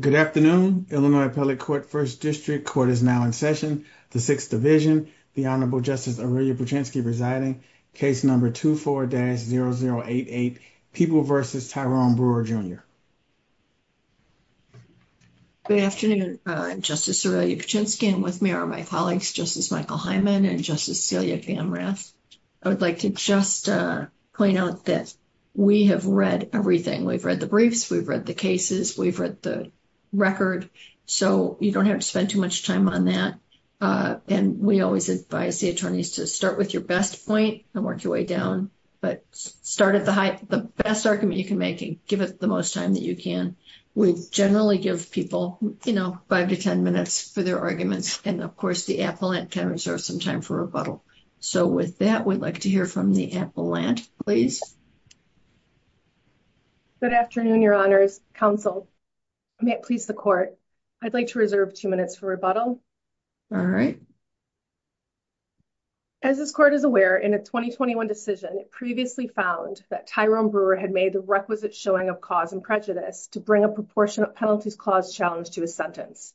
Good afternoon, Illinois Appellate Court First District. Court is now in session. The Sixth Division, the Honorable Justice Aurelia Puczynski presiding, case number 24-0088, People v. Tyrone Brewer Jr. Good afternoon, Justice Aurelia Puczynski, and with me are my colleagues, Justice Michael Hyman and Justice Celia Gamrath. I would like to just point out that we have read everything. We've the cases, we've read the record, so you don't have to spend too much time on that. And we always advise the attorneys to start with your best point and work your way down, but start at the best argument you can make and give it the most time that you can. We generally give people, you know, five to ten minutes for their arguments, and of course, the appellant can reserve some time for rebuttal. So with that, we'd like to hear from the appellant, please. Good afternoon, Your Honors. Counsel, may it please the court, I'd like to reserve two minutes for rebuttal. All right. As this court is aware, in a 2021 decision, it previously found that Tyrone Brewer had made the requisite showing of cause and prejudice to bring a proportionate penalties clause challenge to his sentence.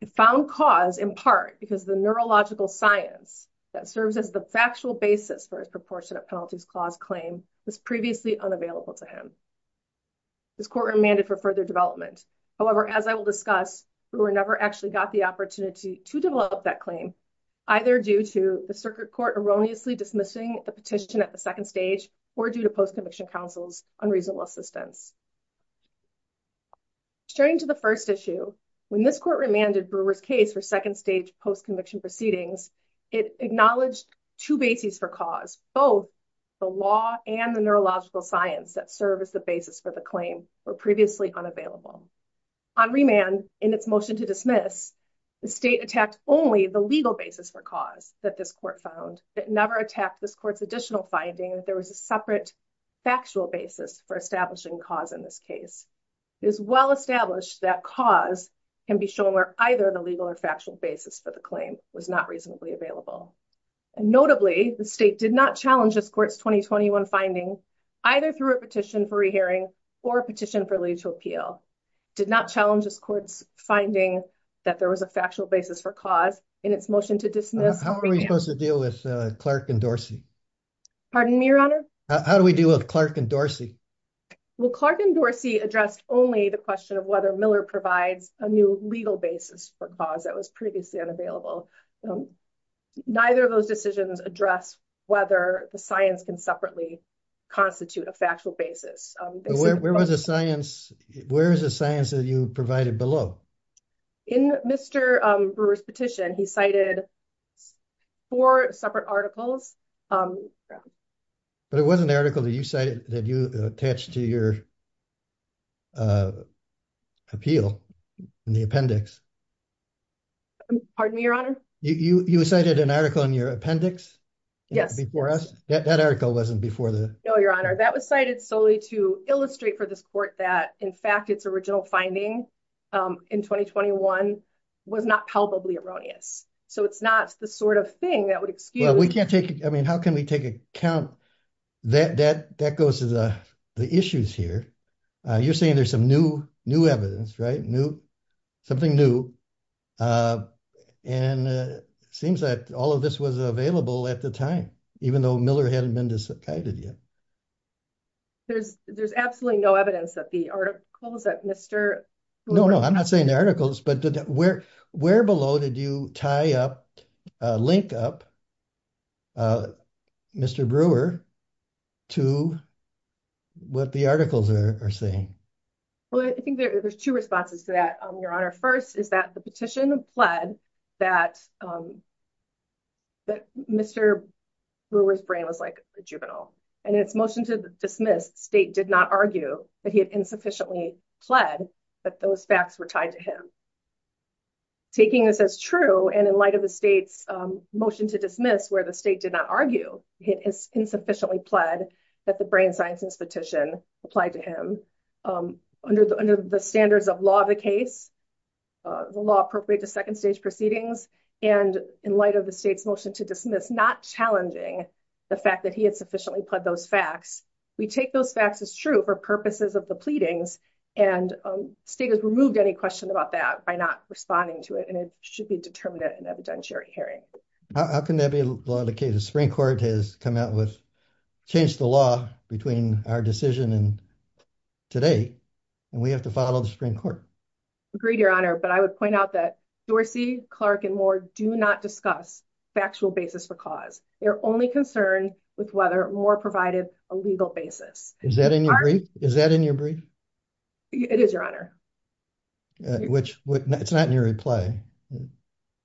It found cause in part because the neurological science that serves as the factual basis for his proportionate penalties clause claim was previously unavailable to him. This court remanded for further development. However, as I will discuss, Brewer never actually got the opportunity to develop that claim, either due to the circuit court erroneously dismissing the petition at the second stage or due to post-conviction counsel's unreasonable assistance. Staring to the first issue, when this court remanded Brewer's case for second stage post-conviction proceedings, it acknowledged two bases for cause, both the law and the neurological science that serve as the basis for the claim were previously unavailable. On remand, in its motion to dismiss, the state attacked only the legal basis for cause that this court found. It never attacked this court's additional finding that there was a separate factual basis for establishing cause in this case. It is well established that cause can be either the legal or factual basis for the claim was not reasonably available. Notably, the state did not challenge this court's 2021 finding, either through a petition for rehearing or a petition for legal appeal, did not challenge this court's finding that there was a factual basis for cause in its motion to dismiss. How are we supposed to deal with Clark and Dorsey? Pardon me, your honor? How do we deal with Clark and Dorsey? Well, Clark and Dorsey addressed only the question of whether Miller provides a new legal basis for cause that was previously unavailable. Neither of those decisions address whether the science can separately constitute a factual basis. Where is the science that you provided below? In Mr. Brewer's petition, he cited four separate articles. But it wasn't the article that you cited that you attached to your appeal in the appendix. Pardon me, your honor? You cited an article in your appendix? Yes. Before us? That article wasn't before the... No, your honor. That was cited solely to illustrate for this court that, in fact, its original finding in 2021 was not palpably erroneous. So it's not the sort of thing that would excuse... Well, we can't take... I mean, how can we take account... That goes to the issues here. You're saying there's some new evidence, right? Something new. And it seems that all of this was available at the time, even though Miller hadn't been decided yet. There's absolutely no evidence that the articles that Mr. Brewer... No, no. I'm not saying the articles, but where below did you tie up, link up Mr. Brewer to what the articles are saying? Well, I think there's two responses to that, your honor. First is that the petition pled that Mr. Brewer's brain was like a juvenile. And in its motion to dismiss, state did not argue that he had insufficiently pled that those facts were tied to him. Taking this as true, and in light of the state's motion to dismiss where the state did not argue, it is insufficiently pled that the brain sciences petition applied to him under the standards of law of the case, the law appropriate to second stage proceedings, and in light of the state's motion to dismiss not challenging the fact that he had sufficiently pled those facts, we take those facts as true for purposes of the pleadings and state has removed any question about that by not responding to it. And it should be determined at an evidentiary hearing. How can that be a law of the case? The Supreme Court has come out with, changed the law between our decision and today, and we have to follow the Supreme Court. Agreed, your honor. But I would point out that Dorsey, Clark, and Moore do not discuss factual basis for cause. They're only concerned with whether Moore provided a legal basis. Is that in your brief? Is that in your brief? It is, your honor. Which, it's not in your reply.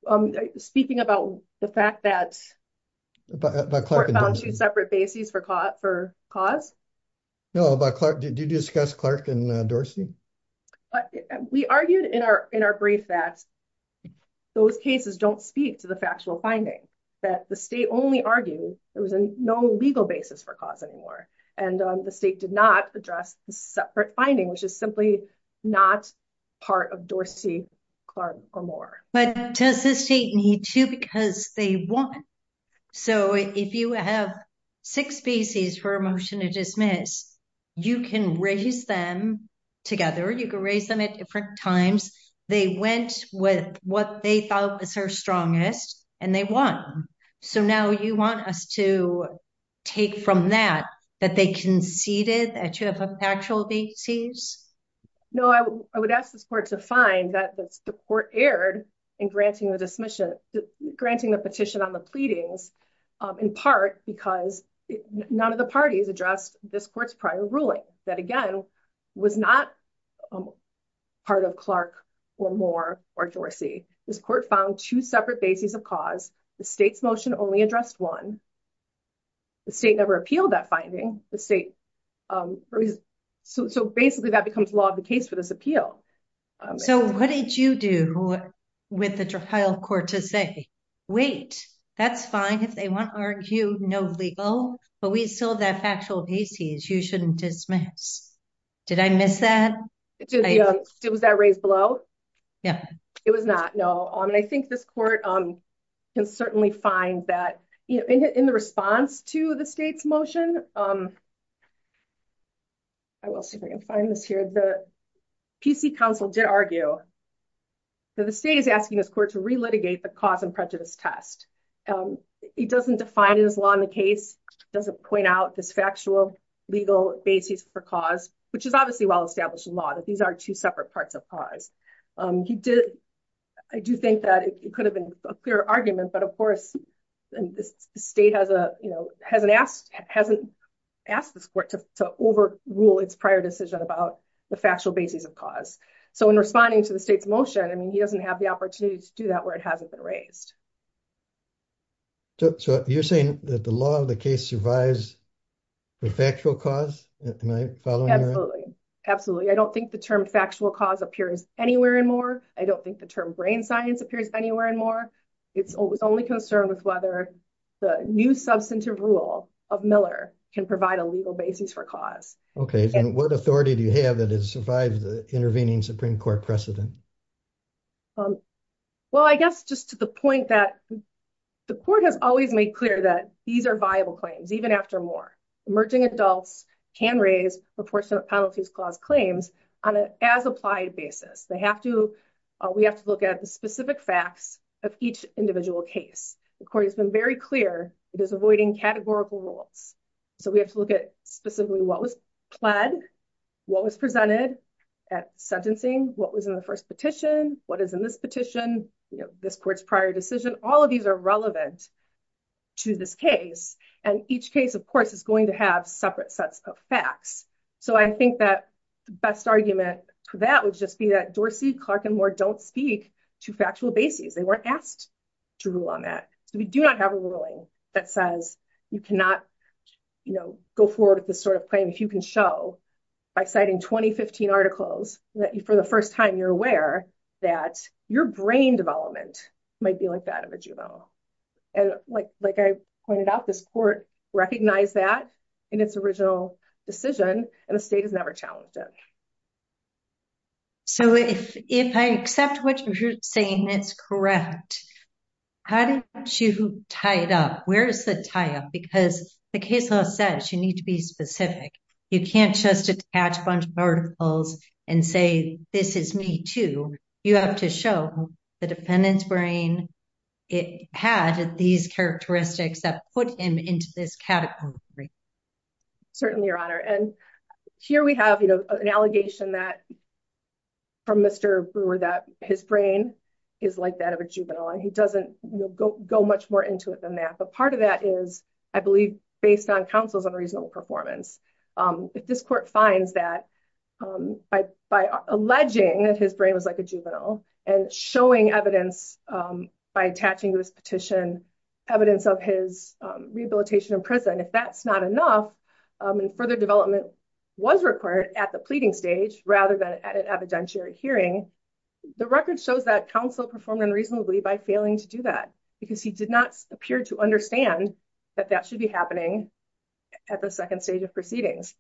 I'm speaking about the fact that the court found two separate bases for cause. No, about Clark, did you discuss Clark and Dorsey? We argued in our brief that those cases don't speak to the factual finding, that the state only argued there was no legal basis for cause anymore, and the state did not address the separate finding, which is simply not part of Dorsey, Clark, or Moore. But does the state need to because they won? So, if you have six bases for a motion to dismiss, you can raise them together. You can raise them at different times. They went with what they thought was their strongest, and they won. So now you want us to take from that, that they conceded that you have a factual basis? No, I would ask the court to find that the court erred in granting the petition on the pleadings, in part because none of the parties addressed this court's prior ruling. That again, was not part of Clark or Moore or Dorsey. This court found two separate bases of cause. The state's motion only addressed one. The state never appealed that finding. So basically, that becomes law of the case for this appeal. So what did you do with the trial court to say, wait, that's fine if they want to argue no legal, but we still have that factual basis. You shouldn't dismiss. Did I miss that? It was that raised below. Yeah, it was not. No. I mean, I think this court can certainly find that in the response to the state's motion. I will see if I can find this here. The PC council did argue that the state is asking this court to re-litigate the cause and prejudice test. He doesn't define his law in the case, doesn't point out this factual legal basis for cause, which is obviously well-established law, that these are two separate parts of cause. I do think that it could have been a clear argument, but of course, the state hasn't asked this court to overrule its prior decision about the factual basis of cause. So in responding to the state's motion, I mean, he doesn't have the opportunity to do that where it hasn't been raised. So you're saying that the law of the case survives the factual cause? Am I following that? Absolutely. I don't think the term factual cause appears anywhere in more. I don't think the term brain science appears anywhere in more. It's only concerned with whether the new substantive rule of Miller can provide a legal basis for cause. Okay. And what authority do you have that has survived the intervening Supreme Court precedent? Well, I guess just to the point that the court has always made clear that these are viable claims, even after more. Emerging adults can raise enforcement penalties clause claims on an as-applied basis. We have to look at the specific facts of each individual case. The court has been very clear it is avoiding categorical rules. So we have to look at specifically what was pled, what was presented at sentencing, what was in the first petition, what is in this petition, this court's prior decision. All of these are relevant to this case. And each case, of course, is going to have separate sets of facts. So I think that the best argument for that would just be that Dorsey, Clark, and Moore don't speak to factual basis. They weren't asked to rule on that. So we do not have a ruling that says you cannot, you know, go forward with this sort of claim if you can show by citing 2015 articles that for the first time you're aware that your brain development might be like that of a juvenile. And like I pointed out, this court recognized that in its original decision, and the state has never challenged it. So if I accept what you're saying, it's correct. How do you tie it up? Where is the tie-up? Because the case law says you need to be specific. You can't just attach a bunch of articles and say, this is me too. You have to show the defendant's brain had these characteristics that put him into this category. Certainly, Your Honor. And here we have, you know, an allegation that from Mr. Brewer that his brain is like that of a juvenile. And he doesn't go much more into it than that. But part of that is, I believe, based on counsel's unreasonable performance. If this court finds that by alleging that his brain was like a juvenile and showing evidence by attaching this petition, evidence of his rehabilitation in prison, if that's not enough and further development was required at the pleading stage, rather than at an evidentiary hearing, the record shows that counsel performed unreasonably by failing to do that because he did not appear to understand that that should be happening at the second stage of proceedings.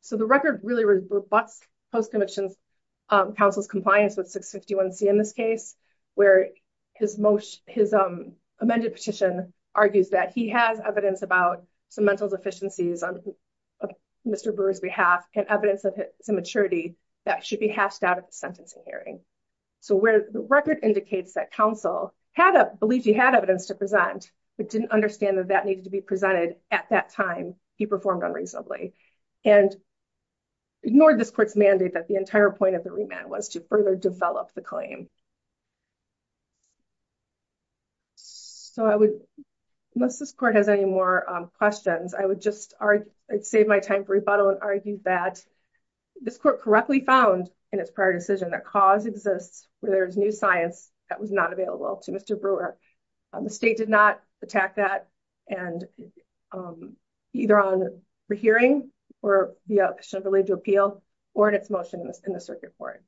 So, the record really rebuts post-conviction counsel's compliance with 651C in this case, where his most, his amended petition argues that he has evidence about some mental deficiencies on Mr. Brewer's behalf and evidence of his immaturity that should be hashed out of the sentencing hearing. So, where the record indicates that counsel had a belief he had evidence to he performed unreasonably and ignored this court's mandate that the entire point of the remand was to further develop the claim. So, I would, unless this court has any more questions, I would just save my time for rebuttal and argue that this court correctly found in its prior decision that cause exists where there's new science that was not available to Mr. Brewer. The state did not attack that and either on re-hearing or the action related to appeal or in its motion in the circuit court.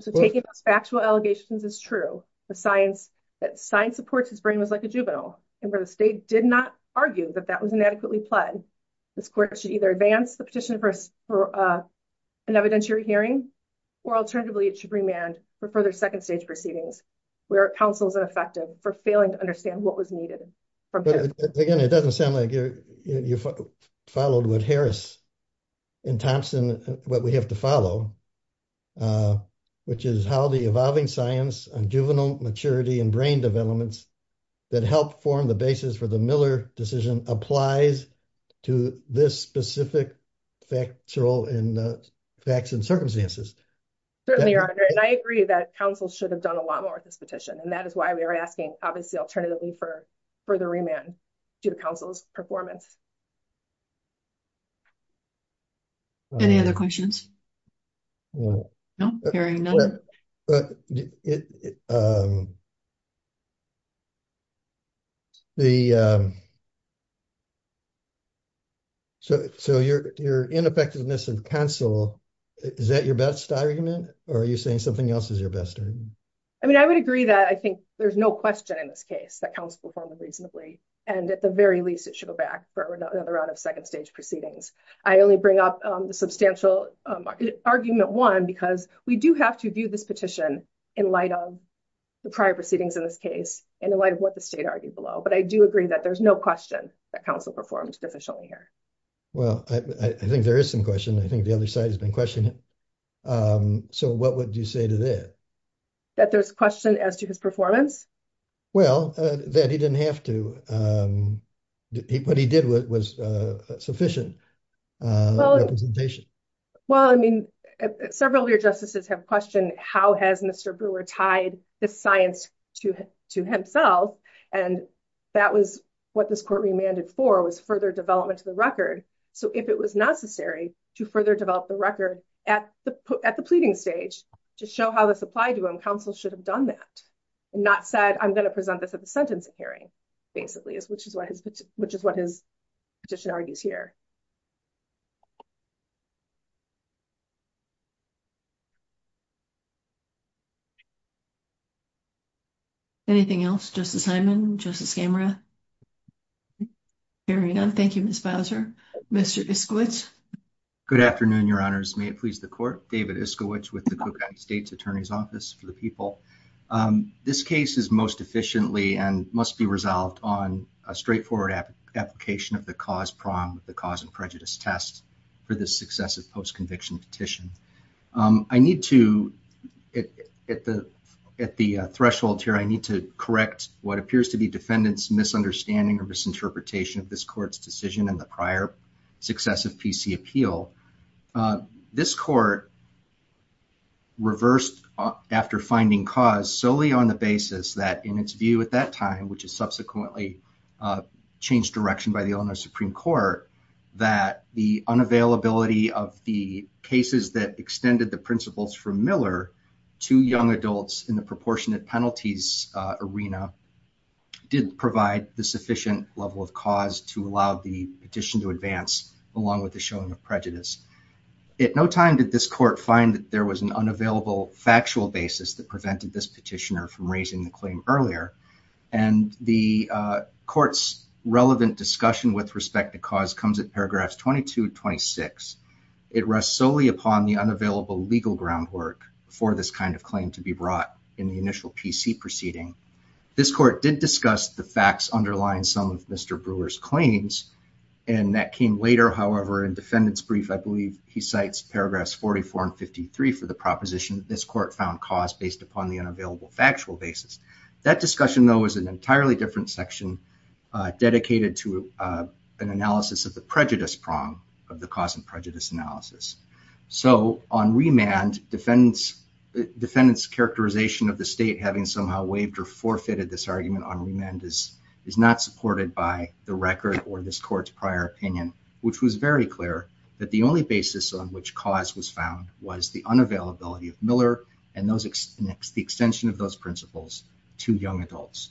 So, taking those factual allegations is true, the science that science supports his brain was like a juvenile and where the state did not argue that that was inadequately pled, this court should either advance the petition for an evidentiary hearing or alternatively it should remand for further second stage proceedings where counsel is ineffective for failing to understand what was needed. Again, it doesn't sound like you're followed with Harris and Thompson, what we have to follow, which is how the evolving science on juvenile maturity and brain developments that helped form the basis for the Miller decision applies to this specific factual and facts and circumstances. I agree that counsel should have a lot more with this petition and that is why we are asking obviously alternatively for further remand due to counsel's performance. Any other questions? So, your ineffectiveness of counsel, is that your best argument or are you saying something else is your best argument? I mean, I would agree that I think there's no question in this case that counsel performed reasonably and at the very least it should go back for another round of second stage proceedings. I only bring up the substantial argument one because we do have to view this petition in light of the prior proceedings in this case and in light of what the state argued below, but I do agree that there's no question that counsel performed deficiently here. Well, I think there is some question. I think the other side has been questioning. So, what would you say to that? That there's question as to his performance? Well, that he didn't have to. What he did was sufficient representation. Well, I mean, several of your justices have questioned how has Mr. Brewer tied this science to himself and that was what this court remanded for was further development to the record. So, if it was necessary to further develop the record at the pleading stage to show how this applied to him, counsel should have done that and not said, I'm going to present this at the sentencing hearing basically, which is what his petition argues here. Anything else? Justice Hyman? Justice Gamera? Hearing none. Thank you, Ms. Bowser. Mr. Iskowicz? Good afternoon, your honors. May it please the court. David Iskowicz with the Cook County State's Attorney's Office for the People. This case is most efficiently and must be resolved on a straightforward application of the cause prom with the cause and prejudice test for this successive post-conviction petition. I need to, at the threshold here, I need to correct what appears to be defendant's misunderstanding or misinterpretation of this court's decision in the prior successive PC appeal. This court reversed after finding cause solely on the basis that in its view at that time, which is subsequently changed direction by the Illinois Supreme Court, that the unavailability of the cases that extended the principles from Miller to young adults in the proportionate penalties arena did provide the sufficient level of cause to allow the petition to advance along with the showing of prejudice. At no time did this court find that there was an factual basis that prevented this petitioner from raising the claim earlier. And the court's relevant discussion with respect to cause comes at paragraphs 22 to 26. It rests solely upon the unavailable legal groundwork for this kind of claim to be brought in the initial PC proceeding. This court did discuss the facts underlying some of Mr. Brewer's claims and that came later. However, in defendant's brief, I believe he cites paragraphs 44 and 53 for the proposition that this court found cause based upon the unavailable factual basis. That discussion though is an entirely different section dedicated to an analysis of the prejudice prong of the cause and prejudice analysis. So on remand, defendant's characterization of the state having somehow waived or forfeited this argument on remand is not supported by the record or this court's prior opinion, which was very clear that the only basis on which cause was found was the unavailability of Miller and the extension of those principles to young adults.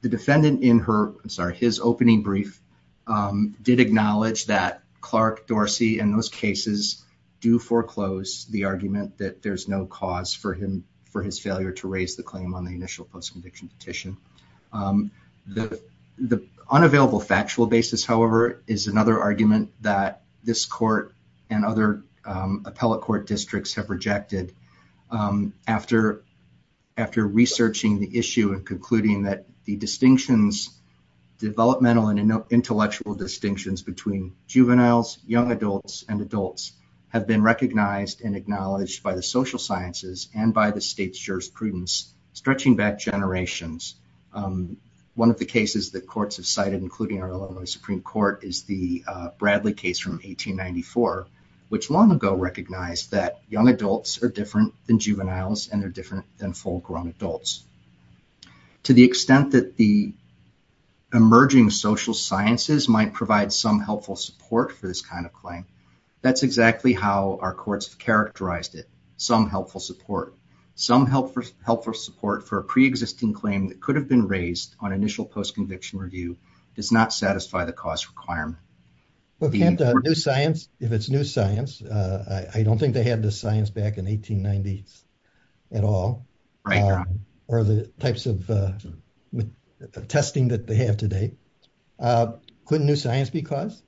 The defendant in his opening brief did acknowledge that Clark Dorsey and those cases do foreclose the argument that there's no cause for his failure to raise the claim on the initial post-conviction petition. The unavailable factual basis, however, is another argument that this court and other appellate court districts have rejected after researching the issue and concluding that the developmental and intellectual distinctions between juveniles, young adults, and adults have been recognized and acknowledged by the social sciences and by the state's jurisprudence stretching back generations. One of the cases that courts have cited, including our Illinois Supreme Court, is the Bradley case from 1894, which long ago recognized that young adults are different than juveniles and they're different than full-grown adults. To the extent that the emerging social sciences might provide some helpful support for this kind of claim, that's exactly how our courts have characterized it, some helpful support. Some helpful support for a pre-existing claim that could have been raised on initial post-conviction review does not satisfy the cause requirement. Well, can't new science, if it's new science, I don't think they had the science back in 1890s at all, or the types of testing that they have today. Couldn't new science be cause?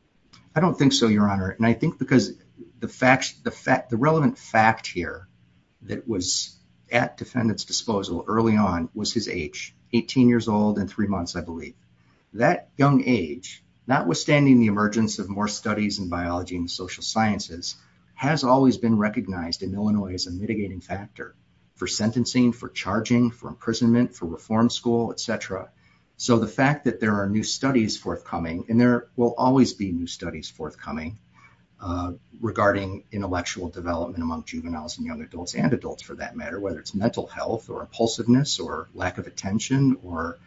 I don't think so, your honor. And I think because the facts, the fact, the relevant fact here that was at defendant's disposal early on was his age, 18 years old, and three months, I believe. That young age, notwithstanding the emergence of more studies in biology and social sciences, has always been recognized in Illinois as a mitigating factor for sentencing, for charging, for imprisonment, for reform school, etc. So the fact that there are new studies forthcoming, and there will always be new studies forthcoming, regarding intellectual development among juveniles and young adults, and adults for that matter, whether it's mental health, or impulsiveness, or lack of attention, or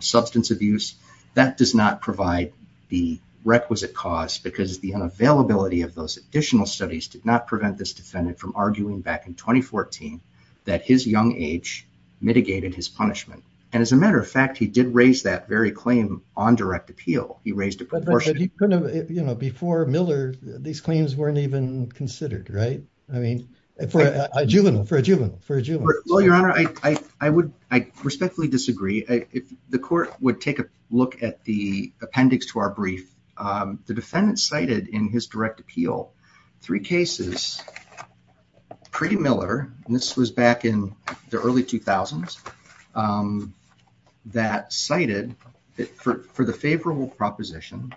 substance abuse, that does not provide the requisite cause because the unavailability of those additional studies did not prevent this defendant from arguing back in 2014 that his young age mitigated his punishment. And as a matter of fact, he did raise that very claim on direct appeal. He raised a proportion. You know, before Miller, these claims weren't even considered, right? I mean, for a juvenile, for a juvenile. Well, your honor, I respectfully disagree. If the court would take a look at the appendix to our brief, the defendant cited in his direct appeal three cases pre-Miller, and this was back in the early 2000s, that cited for the favorable proposition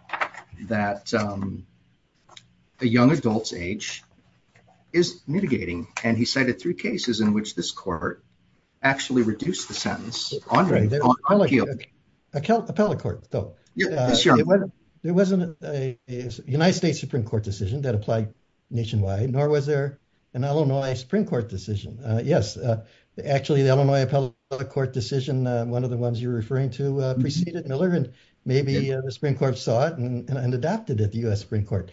that a young adult's age is mitigating, and he cited three cases in which this court actually reduced the sentence on appeal. Appellate court, though. Yes, your honor. There wasn't a United States Supreme Court decision that applied nationwide, nor was there an Illinois Supreme Court decision. Yes, actually, the Illinois Appellate Court decision, one of the ones you're referring to, preceded Miller, and maybe the Supreme Court saw it and adopted it. The U.S. Supreme Court.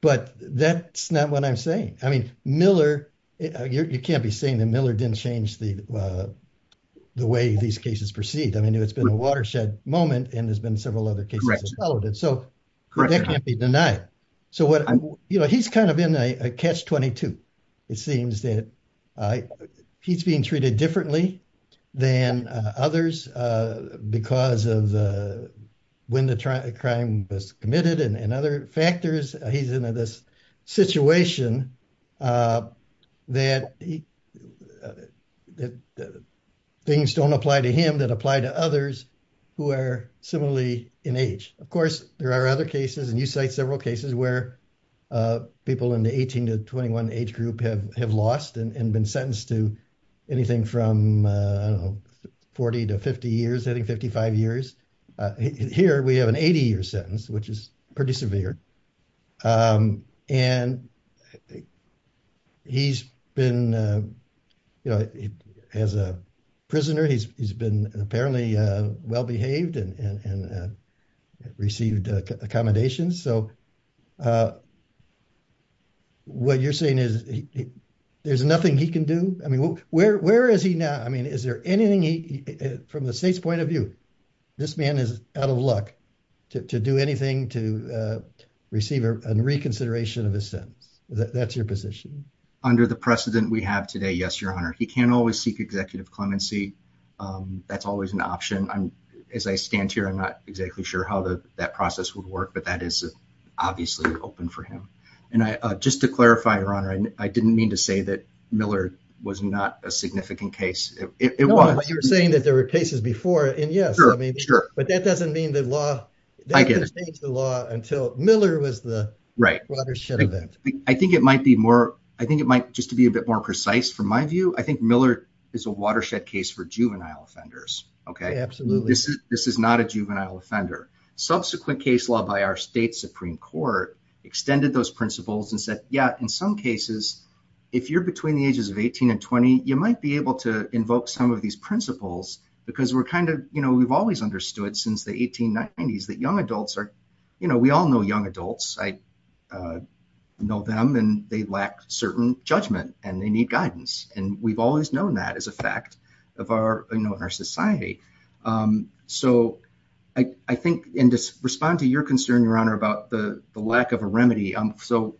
But that's not what I'm saying. I mean, Miller, you can't be saying that Miller didn't change the way these cases proceed. I mean, it's been a watershed moment, and there's been several other cases that followed it. So, that can't be denied. So what, you know, he's kind of in a catch-22. It seems that he's being treated differently than others because of when the crime was committed and other factors. He's in this situation that things don't apply to him that apply to others who are similarly in age. Of course, there are other cases, and you cite several cases, where people in the 18 to 21 age group have lost and been sentenced to anything from, I don't know, 40 to 50 years, I think 55 years. Here, we have an 80-year sentence, which is pretty severe. And he's been, you know, as a prisoner, he's been apparently well-behaved and received accommodations. So, uh, what you're saying is there's nothing he can do? I mean, where is he now? I mean, is there anything he, from the state's point of view, this man is out of luck to do anything to receive a reconsideration of his sentence? That's your position? Under the precedent we have today, yes, your honor. He can always seek executive clemency. That's always an option. As I stand here, I'm not exactly sure how that process would work, but that is obviously open for him. And just to clarify, your honor, I didn't mean to say that Miller was not a significant case. It was. No, but you were saying that there were cases before, and yes, I mean, but that doesn't mean the law, they didn't change the law until Miller was the right watershed event. I think it might be more, I think it might, just to be a bit more precise, from my view, I think Miller is a watershed case for juvenile offenders, okay? Absolutely. This is not a juvenile offender. Subsequent case law by our state Supreme Court extended those principles and said, yeah, in some cases, if you're between the ages of 18 and 20, you might be able to invoke some of these principles because we're kind of, you know, we've always understood since the 1890s that young adults are, you know, we all know young adults. I know them and they lack certain judgment and they need guidance. And we've always known that as a fact of our, in our society. So I think, and to respond to your concern, your honor, about the lack of a remedy. So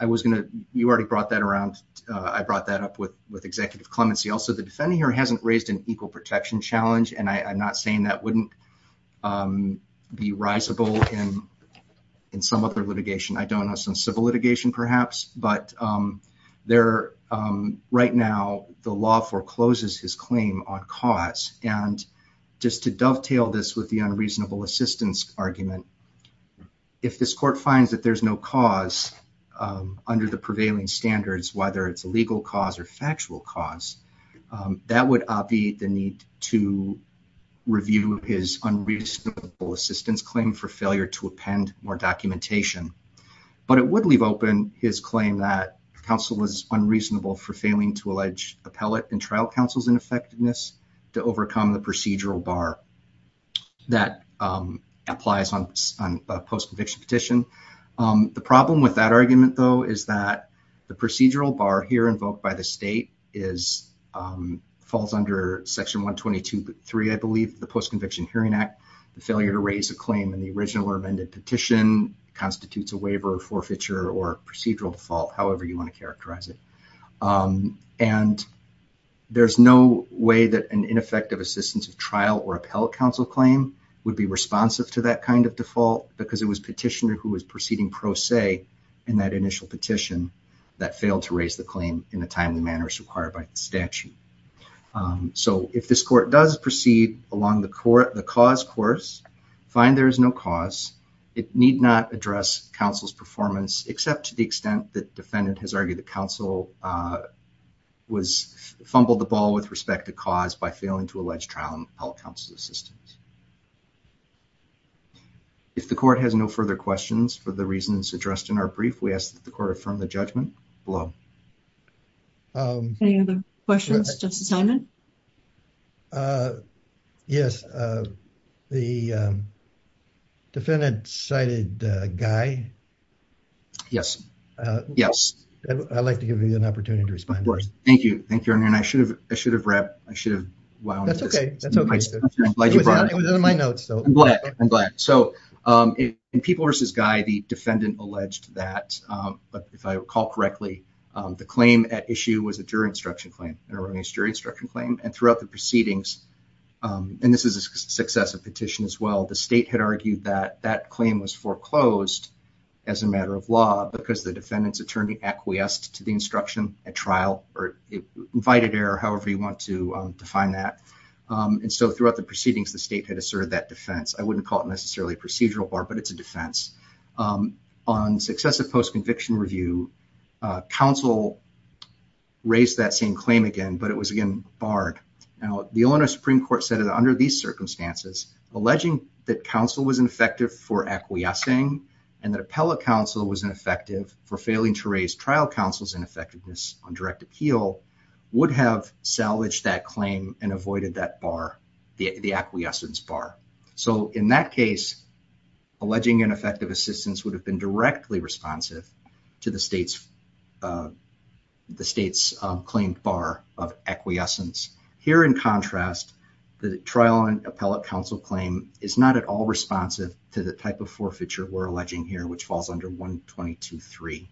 I was going to, you already brought that around. I brought that up with executive clemency. Also the defendant here hasn't raised an equal protection challenge, and I'm not saying that wouldn't be risable in some other litigation. I don't know, some civil litigation perhaps, but right now the law forecloses his claim on cause. And just to dovetail this with the unreasonable assistance argument, if this court finds that there's no cause under the prevailing standards, whether it's a legal cause or factual cause, that would be the need to review his unreasonable assistance claim for failure to append more documentation. But it would leave open his claim that counsel was unreasonable for failing to allege appellate and trial counsel's ineffectiveness to overcome the procedural bar that applies on post-conviction petition. The problem with that argument though, is that the procedural bar here invoked by the state falls under section 122.3, I believe the post-conviction hearing act, the failure to raise a claim in the original or amended petition constitutes a waiver or forfeiture or procedural default, however you want to characterize it. And there's no way that an ineffective assistance of trial or appellate counsel claim would be responsive to that kind of default, because it was petitioner who was proceeding pro se in that initial petition that failed to raise the claim in the timely manners required by the statute. So if this court does along the cause course, find there is no cause, it need not address counsel's performance except to the extent that defendant has argued that counsel fumbled the ball with respect to cause by failing to allege trial and appellate counsel's assistance. If the court has no further questions for the reasons addressed in our brief, we ask that the court affirm the judgment below. Any other questions, Justice Simon? Yes. The defendant cited Guy. Yes. Yes. I'd like to give you an opportunity to respond. Of course. Thank you. Thank you. And I should have, I should have wrapped, I should have. Wow. That's okay. I'm glad you brought it. It was in my notes though. I'm glad. I'm glad. So in people versus Guy, the defendant alleged that, but if I recall correctly, the claim at issue was a jury instruction claim, an organized jury instruction claim. And throughout the proceedings, and this is a successive petition as well, the state had argued that that claim was foreclosed as a matter of law because the defendant's attorney acquiesced to the instruction at trial or invited error, however you want to define that. And so throughout the proceedings, the state had asserted that I wouldn't call it necessarily a procedural bar, but it's a defense. On successive post-conviction review, counsel raised that same claim again, but it was again barred. Now the owner of Supreme Court said that under these circumstances, alleging that counsel was ineffective for acquiescing and that appellate counsel was ineffective for failing to raise trial counsel's ineffectiveness on direct appeal would have salvaged that claim and avoided that bar, the acquiescence bar. So in that case, alleging ineffective assistance would have been directly responsive to the state's claim bar of acquiescence. Here in contrast, the trial and appellate counsel claim is not at all responsive to the type of forfeiture we're alleging here, which falls under 122.3.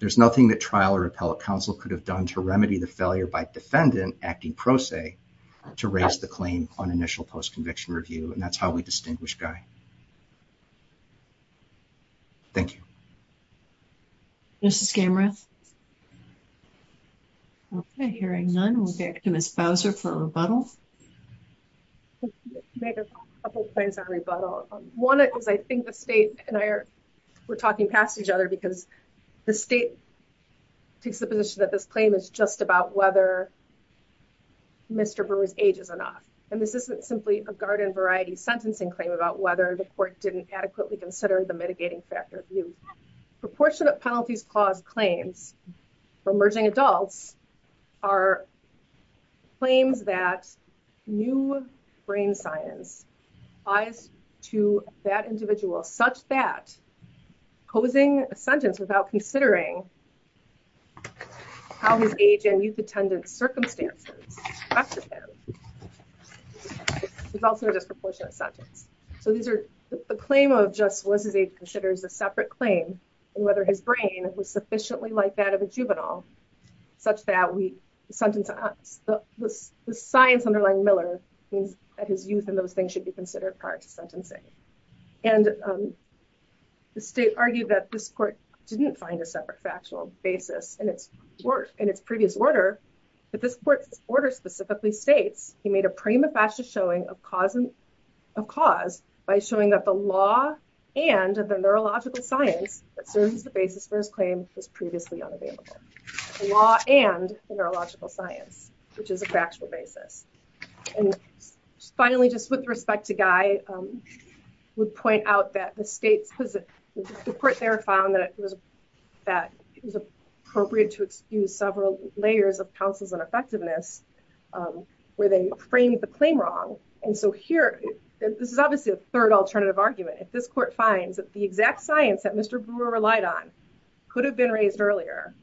There's nothing that trial or appellate counsel could have done to remedy the failure by defendant acting pro se to raise the claim on initial post-conviction review. And that's how we distinguish Guy. Thank you. Mrs. Gamreth. Okay. Hearing none, we'll go to Ms. Bowser for rebuttal. Make a couple of points on rebuttal. One is I think the state and I are, we're talking past each other because the state takes the position that this claim is just about whether Mr. Brewer's age is enough. And this isn't simply a garden variety sentencing claim about whether the court didn't adequately consider the mitigating factor view. Proportionate penalties clause claims for emerging adults are claims that new brain science lies to that individual such that posing a sentence without considering how his age and youth attendance circumstances is also a disproportionate sentence. So these are the claim of just what his age considers a separate claim and whether his brain was sufficiently like that of a juvenile, such that we sentence us. The science underlying Miller means that his youth and those things should be considered prior to sentencing. And the state argued that this court didn't find a separate factual basis in its previous order, but this court's order specifically states he made a prima facie showing of cause by showing that the law and the neurological science that serves as the basis for his claim was previously unavailable. The law and the neurological science, which is a guy, would point out that the states because the court there found that it was that it was appropriate to excuse several layers of counsels and effectiveness where they framed the claim wrong. And so here, this is obviously a third alternative argument. If this court finds that the exact science that Mr. Brewer relied on could have been raised earlier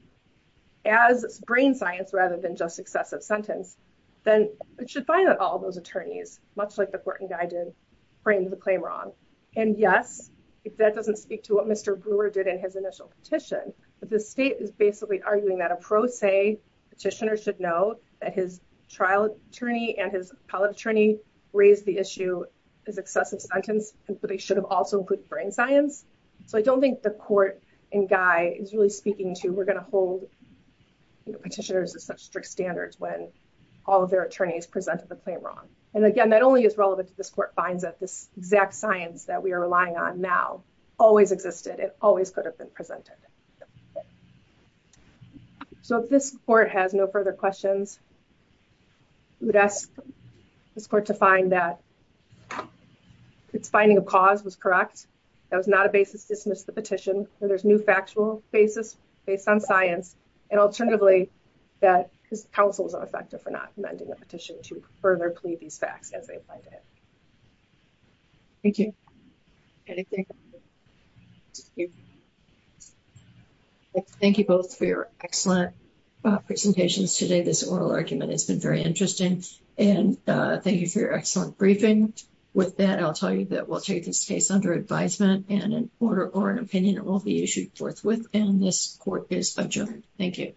as brain science rather than just excessive sentence, then it should find that all of those attorneys, much like the court framed the claim wrong. And yes, if that doesn't speak to what Mr. Brewer did in his initial petition, but the state is basically arguing that a pro se petitioner should know that his trial attorney and his appellate attorney raised the issue as excessive sentence, but they should have also put brain science. So I don't think the court and guy is really speaking to we're going to hold petitioners as such strict standards when all of their attorneys presented the claim wrong. And again, that only is relevant to this court finds that this exact science that we are relying on now always existed. It always could have been presented. So if this court has no further questions, we would ask this court to find that its finding of cause was correct. That was not a basis to dismiss the petition. So there's new factual basis based on science. And alternatively, that his counsel was not effective for not amending the petition to further plead these facts as they applied to him. Thank you. Thank you both for your excellent presentations today. This oral argument has been very interesting and thank you for your excellent briefing. With that, I'll tell you that we'll take this case under advisement and an order or an opinion will be issued forthwith and this court is adjourned. Thank you.